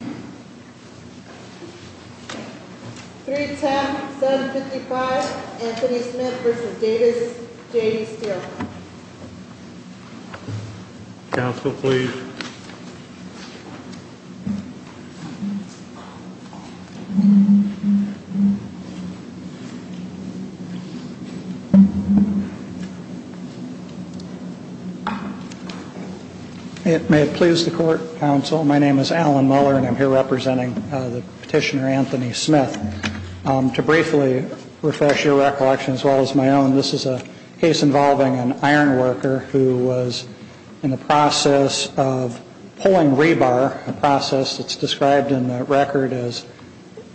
310-755 Anthony Smith v. Davis J.D. Steele Counsel, please It may please the Court, Counsel. My name is Alan Muller and I'm here representing the petitioner Anthony Smith. To briefly refresh your recollection as well as my own, this is a case involving an iron worker who was in the process of pulling rebar, a process that's described in the record as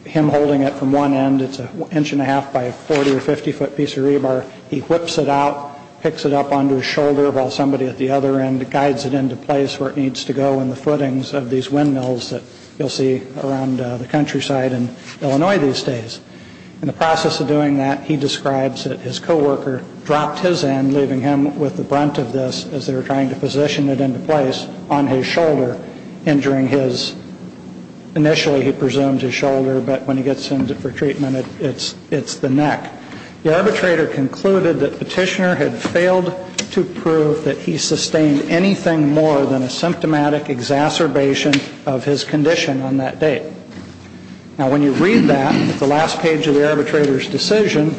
him holding it from one end. It's an inch and a half by a 40 or 50 foot piece of rebar. He whips it out, picks it up under his shoulder while somebody at the other end guides it into place where it needs to go in the footings of these windmills that you'll see around the countryside in Illinois these days. In the process of doing that, he describes that his co-worker dropped his end, leaving him with the brunt of this as they were trying to position it into place on his shoulder, injuring his, initially he presumed his shoulder, but when he gets him for treatment, it's the neck. The arbitrator concluded that the petitioner had failed to prove that he sustained anything more than a symptomatic exacerbation of his condition on that date. Now, when you read that, the last page of the arbitrator's decision,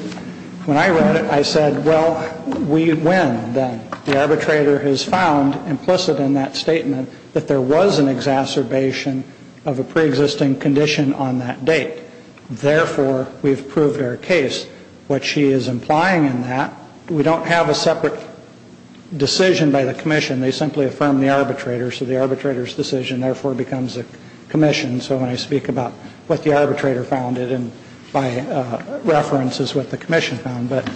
when I read it, I said, well, we win then. The arbitrator has found implicit in that statement that there was an exacerbation of a preexisting condition on that date. Therefore, we've proved our case. What she is implying in that, we don't have a separate decision by the commission. They simply affirm the arbitrator. So the arbitrator's decision, therefore, becomes a commission. So when I speak about what the arbitrator found and by reference is what the commission found. But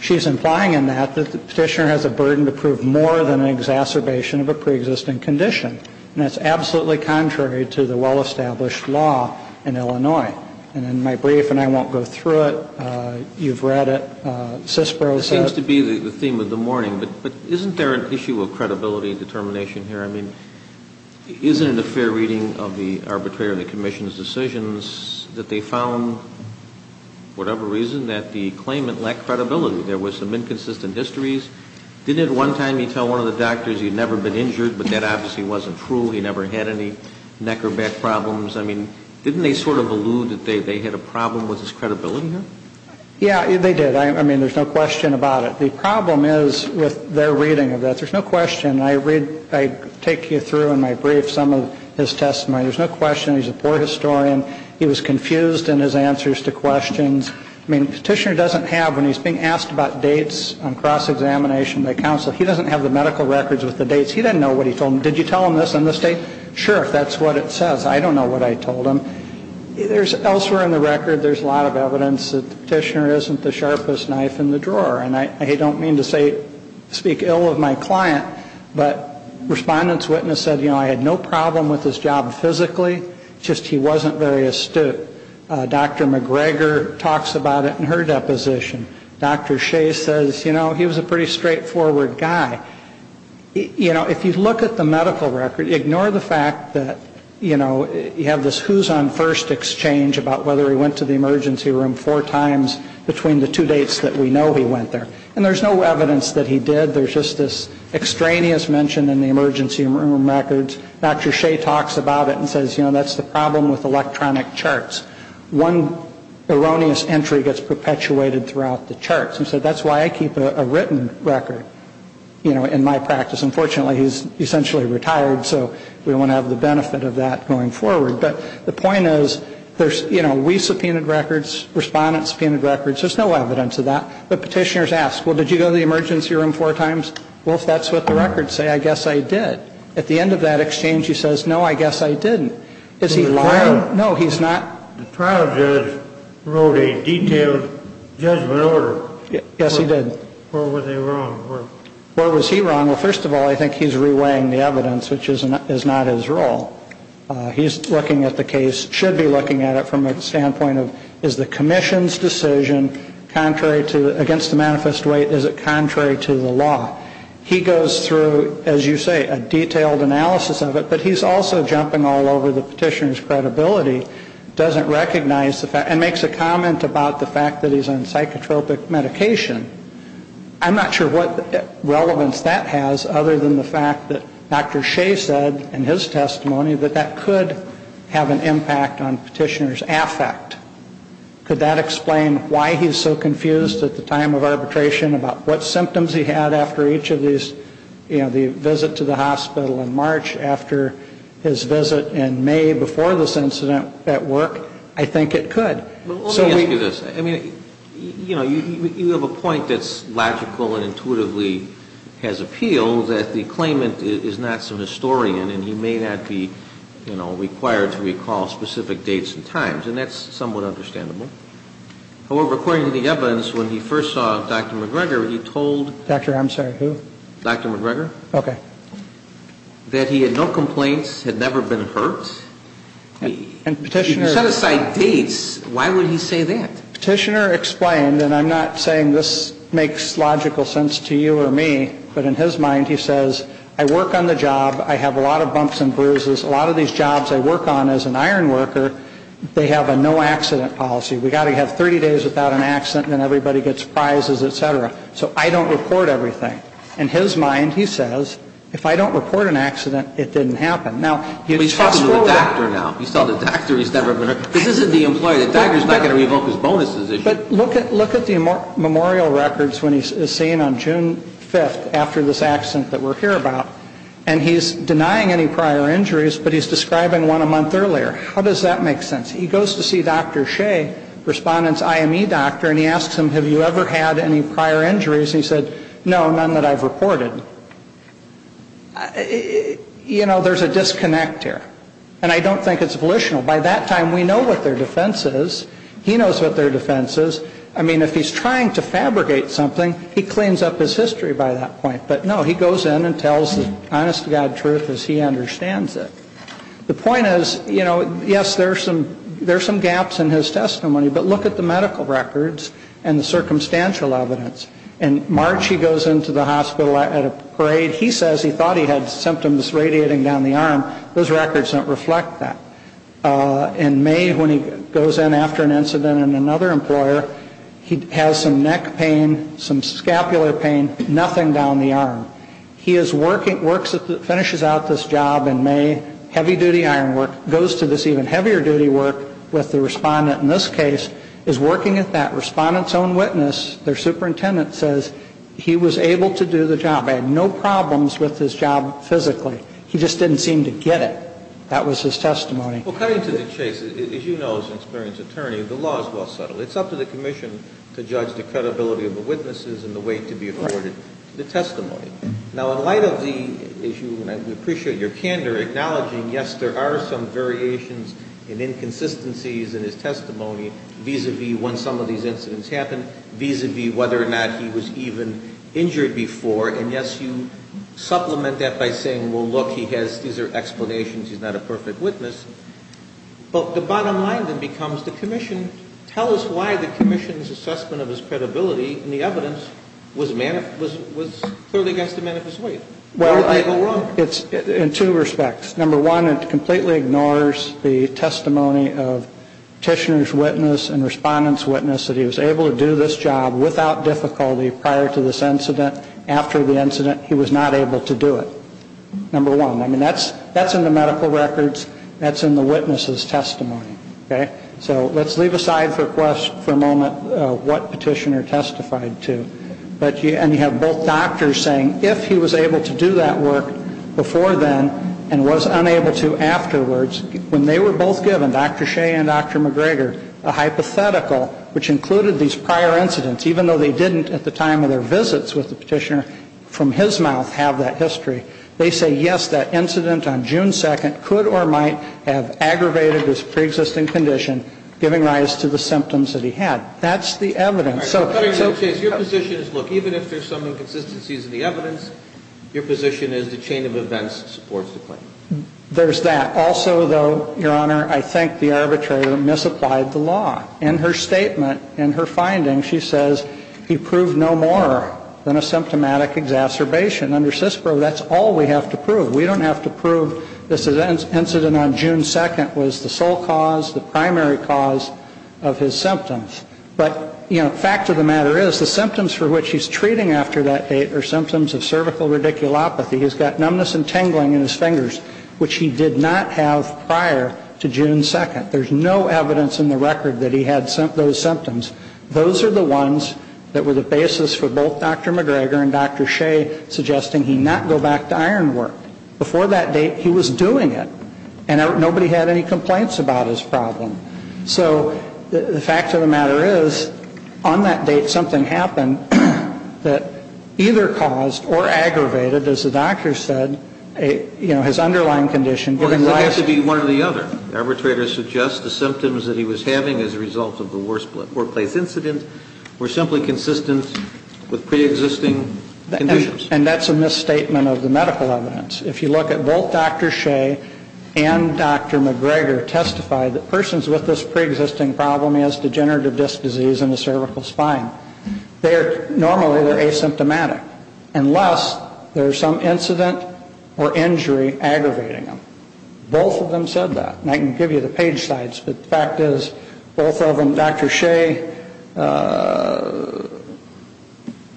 she's implying in that that the petitioner has a burden to prove more than an exacerbation of a preexisting condition. And that's absolutely contrary to the well-established law in Illinois. And in my brief, and I won't go through it, you've read it, CISPRO said. It seems to be the theme of the morning. But isn't there an issue of credibility and determination here? I mean, isn't it a fair reading of the arbitrator and the commission's decisions that they found, for whatever reason, that the claimant lacked credibility? There was some inconsistent histories. Didn't at one time he tell one of the doctors he'd never been injured, but that obviously wasn't true. He never had any neck or back problems. I mean, didn't they sort of allude that they had a problem with his credibility here? Yeah, they did. I mean, there's no question about it. The problem is with their reading of that. There's no question. I take you through in my brief some of his testimony. There's no question he's a poor historian. He was confused in his answers to questions. I mean, Petitioner doesn't have, when he's being asked about dates on cross-examination by counsel, he doesn't have the medical records with the dates. He doesn't know what he told them. Did you tell him this on this day? Sure, if that's what it says. I don't know what I told him. Elsewhere in the record, there's a lot of evidence that Petitioner isn't the sharpest knife in the drawer. And I don't mean to speak ill of my client, but respondents witness said, you know, I had no problem with his job physically. It's just he wasn't very astute. Dr. McGregor talks about it in her deposition. Dr. Shea says, you know, he was a pretty straightforward guy. You know, if you look at the medical record, ignore the fact that, you know, you have this who's on first exchange about whether he went to the emergency room four times between the two dates that we know he went there. And there's no evidence that he did. There's just this extraneous mention in the emergency room records. Dr. Shea talks about it and says, you know, that's the problem with electronic charts. One erroneous entry gets perpetuated throughout the charts. And so that's why I keep a written record, you know, in my practice. Unfortunately, he's essentially retired, so we won't have the benefit of that going forward. But the point is, there's, you know, we subpoenaed records, respondents subpoenaed records. There's no evidence of that. But Petitioner's asked, well, did you go to the emergency room four times? Well, if that's what the records say, I guess I did. At the end of that exchange, he says, no, I guess I didn't. Is he lying? No, he's not. The trial judge wrote a detailed judgment order. Yes, he did. Where was he wrong? Where was he wrong? Well, first of all, I think he's reweighing the evidence, which is not his role. He's looking at the case, should be looking at it from a standpoint of, is the commission's decision against the manifest weight, is it contrary to the law? He goes through, as you say, a detailed analysis of it, but he's also jumping all over the Petitioner's credibility, doesn't recognize the fact, and makes a comment about the fact that he's on psychotropic medication. I'm not sure what relevance that has other than the fact that Dr. Shea said in his testimony that that could have an impact on Petitioner's affect. Could that explain why he's so confused at the time of arbitration about what symptoms he had after each of these, you know, the visit to the hospital in March, after his visit in May, before this incident at work? I think it could. Well, let me ask you this. I mean, you know, you have a point that's logical and intuitively has appeal, that the claimant is not some historian, and he may not be, you know, required to recall specific dates and times, and that's somewhat understandable. However, according to the Evans, when he first saw Dr. McGregor, he told... Doctor, I'm sorry, who? Dr. McGregor. Okay. That he had no complaints, had never been hurt. And Petitioner... If you set aside dates, why would he say that? Petitioner explained, and I'm not saying this makes logical sense to you or me, but in his mind he says, I work on the job, I have a lot of bumps and bruises, a lot of these jobs I work on as an iron worker, they have a no-accident policy. We've got to have 30 days without an accident, and then everybody gets prizes, et cetera. So I don't report everything. In his mind, he says, if I don't report an accident, it didn't happen. Now, he's talking to the doctor now. He's telling the doctor he's never been hurt. This isn't the employee. The doctor's not going to revoke his bonuses. But look at the memorial records when he's seen on June 5th, after this accident that we're here about, and he's denying any prior injuries, but he's describing one a month earlier. How does that make sense? He goes to see Dr. Shea, respondent's IME doctor, and he asks him, have you ever had any prior injuries? And he said, no, none that I've reported. You know, there's a disconnect here, and I don't think it's volitional. By that time, we know what their defense is. He knows what their defense is. I mean, if he's trying to fabricate something, he cleans up his history by that point. But, no, he goes in and tells the honest-to-God truth as he understands it. The point is, you know, yes, there are some gaps in his testimony, but look at the medical records and the circumstantial evidence. In March, he goes into the hospital at a parade. He says he thought he had symptoms radiating down the arm. Those records don't reflect that. In May, when he goes in after an incident in another employer, he has some neck pain, some scapular pain, nothing down the arm. He is working, finishes out this job in May, heavy-duty iron work, goes to this even heavier-duty work with the respondent in this case, is working at that. Respondent's own witness, their superintendent, says he was able to do the job. He had no problems with his job physically. He just didn't seem to get it. That was his testimony. Well, cutting to the chase, as you know, as an experienced attorney, the law is well settled. It's up to the commission to judge the credibility of the witnesses and the way to be afforded the testimony. Now, in light of the issue, and I appreciate your candor, acknowledging, yes, there are some variations and inconsistencies in his testimony vis-à-vis when some of these incidents happened, vis-à-vis whether or not he was even injured before, and, yes, you supplement that by saying, well, look, he has, these are explanations, he's not a perfect witness. But the bottom line then becomes the commission, tell us why the commission's assessment of his credibility and the evidence was clearly against the man of his weight. Where did they go wrong? In two respects. Number one, it completely ignores the testimony of Tishner's witness and respondent's witness that he was able to do this job without difficulty prior to this incident. After the incident, he was not able to do it. Number one. I mean, that's in the medical records. That's in the witness's testimony. Okay? So let's leave aside for a moment what Petitioner testified to. And you have both doctors saying if he was able to do that work before then and was unable to afterwards, when they were both given, Dr. Shea and Dr. McGregor, a hypothetical, which included these prior incidents, even though they didn't at the time of their visits with the Petitioner from his mouth have that history, they say, yes, that incident on June 2nd could or might have aggravated his preexisting condition, giving rise to the symptoms that he had. That's the evidence. Your position is, look, even if there's some inconsistencies in the evidence, your position is the chain of events supports the claim. There's that. Also, though, Your Honor, I think the arbitrator misapplied the law. In her statement, in her finding, she says he proved no more than a symptomatic exacerbation. Under CISPRO, that's all we have to prove. We don't have to prove this incident on June 2nd was the sole cause, the primary cause of his symptoms. But, you know, fact of the matter is the symptoms for which he's treating after that date are symptoms of cervical radiculopathy. He's got numbness and tingling in his fingers, which he did not have prior to June 2nd. There's no evidence in the record that he had those symptoms. Those are the ones that were the basis for both Dr. McGregor and Dr. Shea suggesting he not go back to iron work. Before that date, he was doing it, and nobody had any complaints about his problem. So the fact of the matter is, on that date, something happened that either caused or aggravated, as the doctor said, you know, his underlying condition. Well, it doesn't have to be one or the other. The arbitrator suggests the symptoms that he was having as a result of the workplace incident were simply consistent with preexisting conditions. And that's a misstatement of the medical evidence. If you look at both Dr. Shea and Dr. McGregor testified that persons with this preexisting problem as degenerative disc disease in the cervical spine, normally they're asymptomatic unless there's some incident or injury aggravating them. Both of them said that. And I can give you the page sites, but the fact is both of them, Dr. Shea,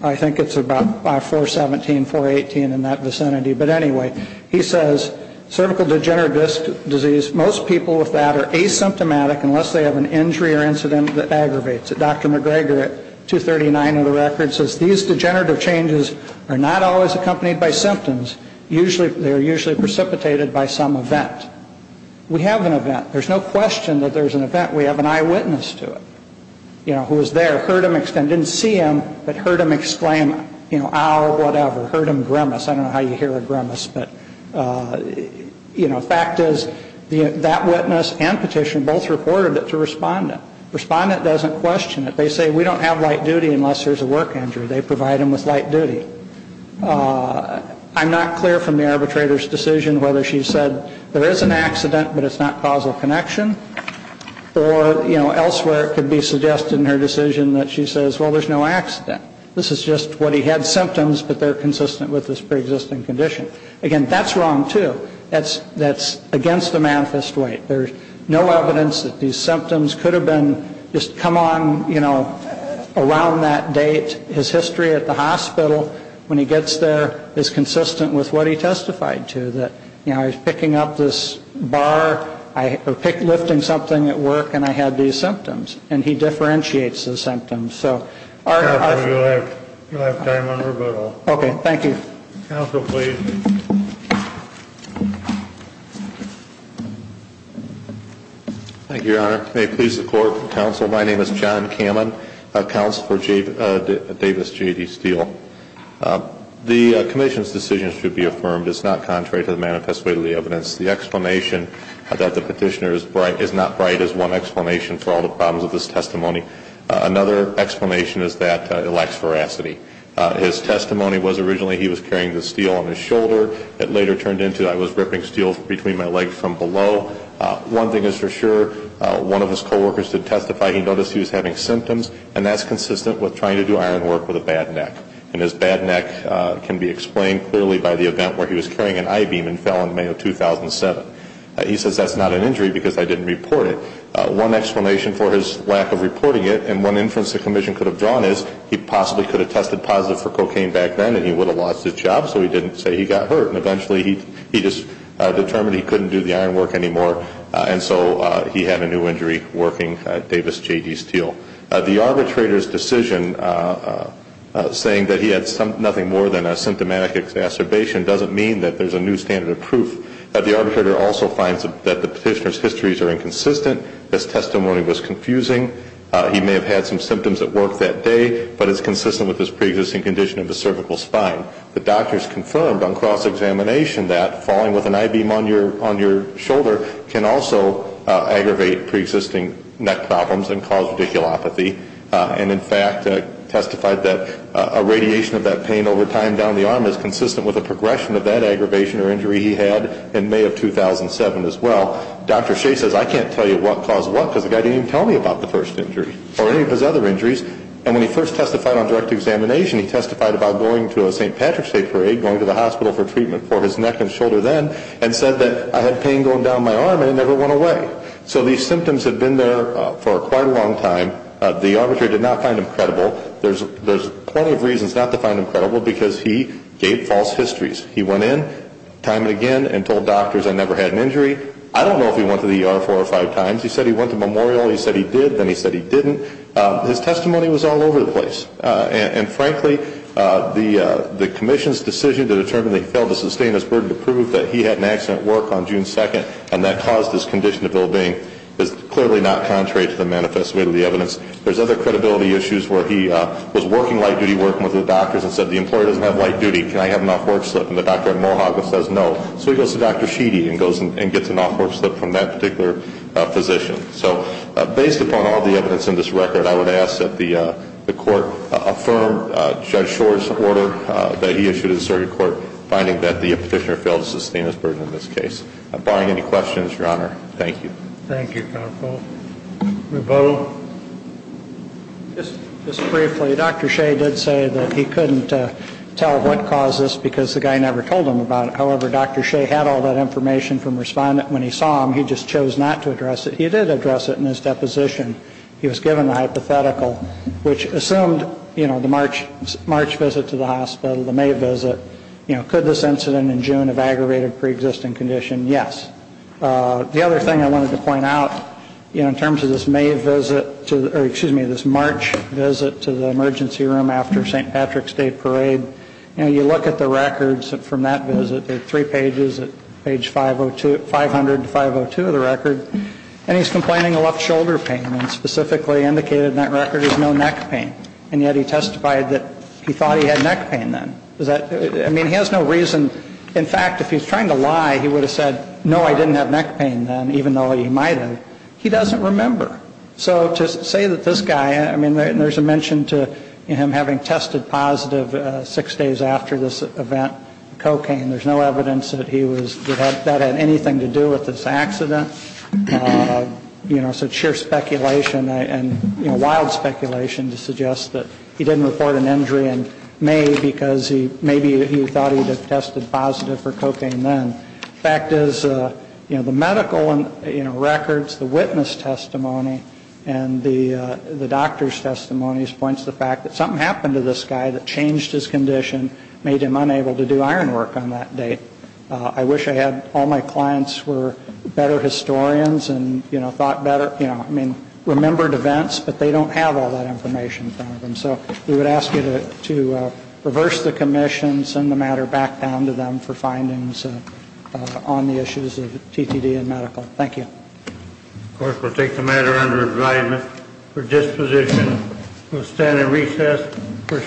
I think it's about 417, 418 in that vicinity. But anyway, he says cervical degenerative disc disease, most people with that are asymptomatic unless they have an injury or incident that aggravates it. And Dr. McGregor at 239 of the record says these degenerative changes are not always accompanied by symptoms. They're usually precipitated by some event. We have an event. There's no question that there's an event. We have an eyewitness to it, you know, who was there, heard him, didn't see him, but heard him exclaim, you know, ow, whatever, heard him grimace. I don't know how you hear a grimace, but, you know, fact is that witness and petitioner both reported it to respondent. Respondent doesn't question it. They say we don't have light duty unless there's a work injury. They provide them with light duty. I'm not clear from the arbitrator's decision whether she said there is an accident, but it's not causal connection. Or, you know, elsewhere it could be suggested in her decision that she says, well, there's no accident. This is just what he had symptoms, but they're consistent with this preexisting condition. Again, that's wrong, too. That's against the manifest weight. There's no evidence that these symptoms could have been just come on, you know, around that date. His history at the hospital, when he gets there, is consistent with what he testified to, that, you know, I was picking up this bar, I was lifting something at work, and I had these symptoms. And he differentiates the symptoms. Okay. Thank you. Counsel, please. Thank you, Your Honor. May it please the Court. Counsel, my name is John Cammon, counsel for Davis J.D. Steele. The commission's decision should be affirmed. It's not contrary to the manifest weight of the evidence. The explanation that the petitioner is not right is one explanation for all the problems of this testimony. Another explanation is that it lacks veracity. His testimony was originally he was carrying the steel on his shoulder. It later turned into I was ripping steel between my legs from below. One thing is for sure, one of his coworkers did testify he noticed he was having symptoms, and that's consistent with trying to do iron work with a bad neck. And his bad neck can be explained clearly by the event where he was carrying an I-beam and fell in May of 2007. He says that's not an injury because I didn't report it. So one explanation for his lack of reporting it, and one inference the commission could have drawn is he possibly could have tested positive for cocaine back then, and he would have lost his job, so he didn't say he got hurt. And eventually he just determined he couldn't do the iron work anymore, and so he had a new injury working Davis J.D. Steele. The arbitrator's decision saying that he had nothing more than a symptomatic exacerbation doesn't mean that there's a new standard of proof. The arbitrator also finds that the petitioner's histories are inconsistent. His testimony was confusing. He may have had some symptoms at work that day, but it's consistent with his preexisting condition of his cervical spine. The doctors confirmed on cross-examination that falling with an I-beam on your shoulder can also aggravate preexisting neck problems and cause radiculopathy, and in fact testified that a radiation of that pain over time down the arm is consistent with a progression of that aggravation or injury he had in May of 2007 as well. Dr. Shea says, I can't tell you what caused what because the guy didn't even tell me about the first injury or any of his other injuries. And when he first testified on direct examination, he testified about going to a St. Patrick's Day parade, going to the hospital for treatment for his neck and shoulder then, and said that I had pain going down my arm and it never went away. So these symptoms had been there for quite a long time. The arbitrator did not find him credible. There's plenty of reasons not to find him credible because he gave false histories. He went in time and again and told doctors I never had an injury. I don't know if he went to the ER four or five times. He said he went to Memorial. He said he did. Then he said he didn't. His testimony was all over the place. And frankly, the commission's decision to determine that he failed to sustain his burden to prove that he had an accident at work on June 2nd and that caused his condition to build in is clearly not contrary to the manifest way of the evidence. There's other credibility issues where he was working light duty, working with the doctors and said the employer doesn't have light duty. Can I have an off work slip? And the doctor at Mohawk says no. So he goes to Dr. Sheedy and gets an off work slip from that particular physician. So based upon all the evidence in this record, I would ask that the court affirm Judge Shore's order that he issued to the circuit court, finding that the petitioner failed to sustain his burden in this case. Barring any questions, Your Honor, thank you. Thank you, counsel. Ravot? Just briefly, Dr. Shea did say that he couldn't tell what caused this because the guy never told him about it. However, Dr. Shea had all that information from respondent when he saw him. He just chose not to address it. He did address it in his deposition. He was given a hypothetical, which assumed, you know, the March visit to the hospital, the May visit. You know, could this incident in June have aggravated a preexisting condition? Yes. The other thing I wanted to point out, you know, in terms of this May visit, or excuse me, this March visit to the emergency room after St. Patrick's Day parade. You know, you look at the records from that visit. There are three pages at page 502, 500 to 502 of the record. And he's complaining of left shoulder pain and specifically indicated in that record there's no neck pain. And yet he testified that he thought he had neck pain then. I mean, he has no reason. In fact, if he was trying to lie, he would have said, no, I didn't have neck pain then, even though he might have. He doesn't remember. So to say that this guy, I mean, there's a mention to him having tested positive six days after this event, cocaine. There's no evidence that he was, that that had anything to do with this accident. You know, so it's sheer speculation and, you know, wild speculation to suggest that he didn't report an injury in May because maybe he thought he had tested positive for cocaine then. The fact is, you know, the medical records, the witness testimony, and the doctor's testimony points to the fact that something happened to this guy that changed his condition, made him unable to do iron work on that date. I wish I had, all my clients were better historians and, you know, thought better, you know, I mean, remembered events, but they don't have all that information in front of them. So we would ask you to reverse the commission, send the matter back down to them for findings on the issues of TTD and medical. Thank you. Of course, we'll take the matter under advisement for disposition. We'll stand at recess for a short period.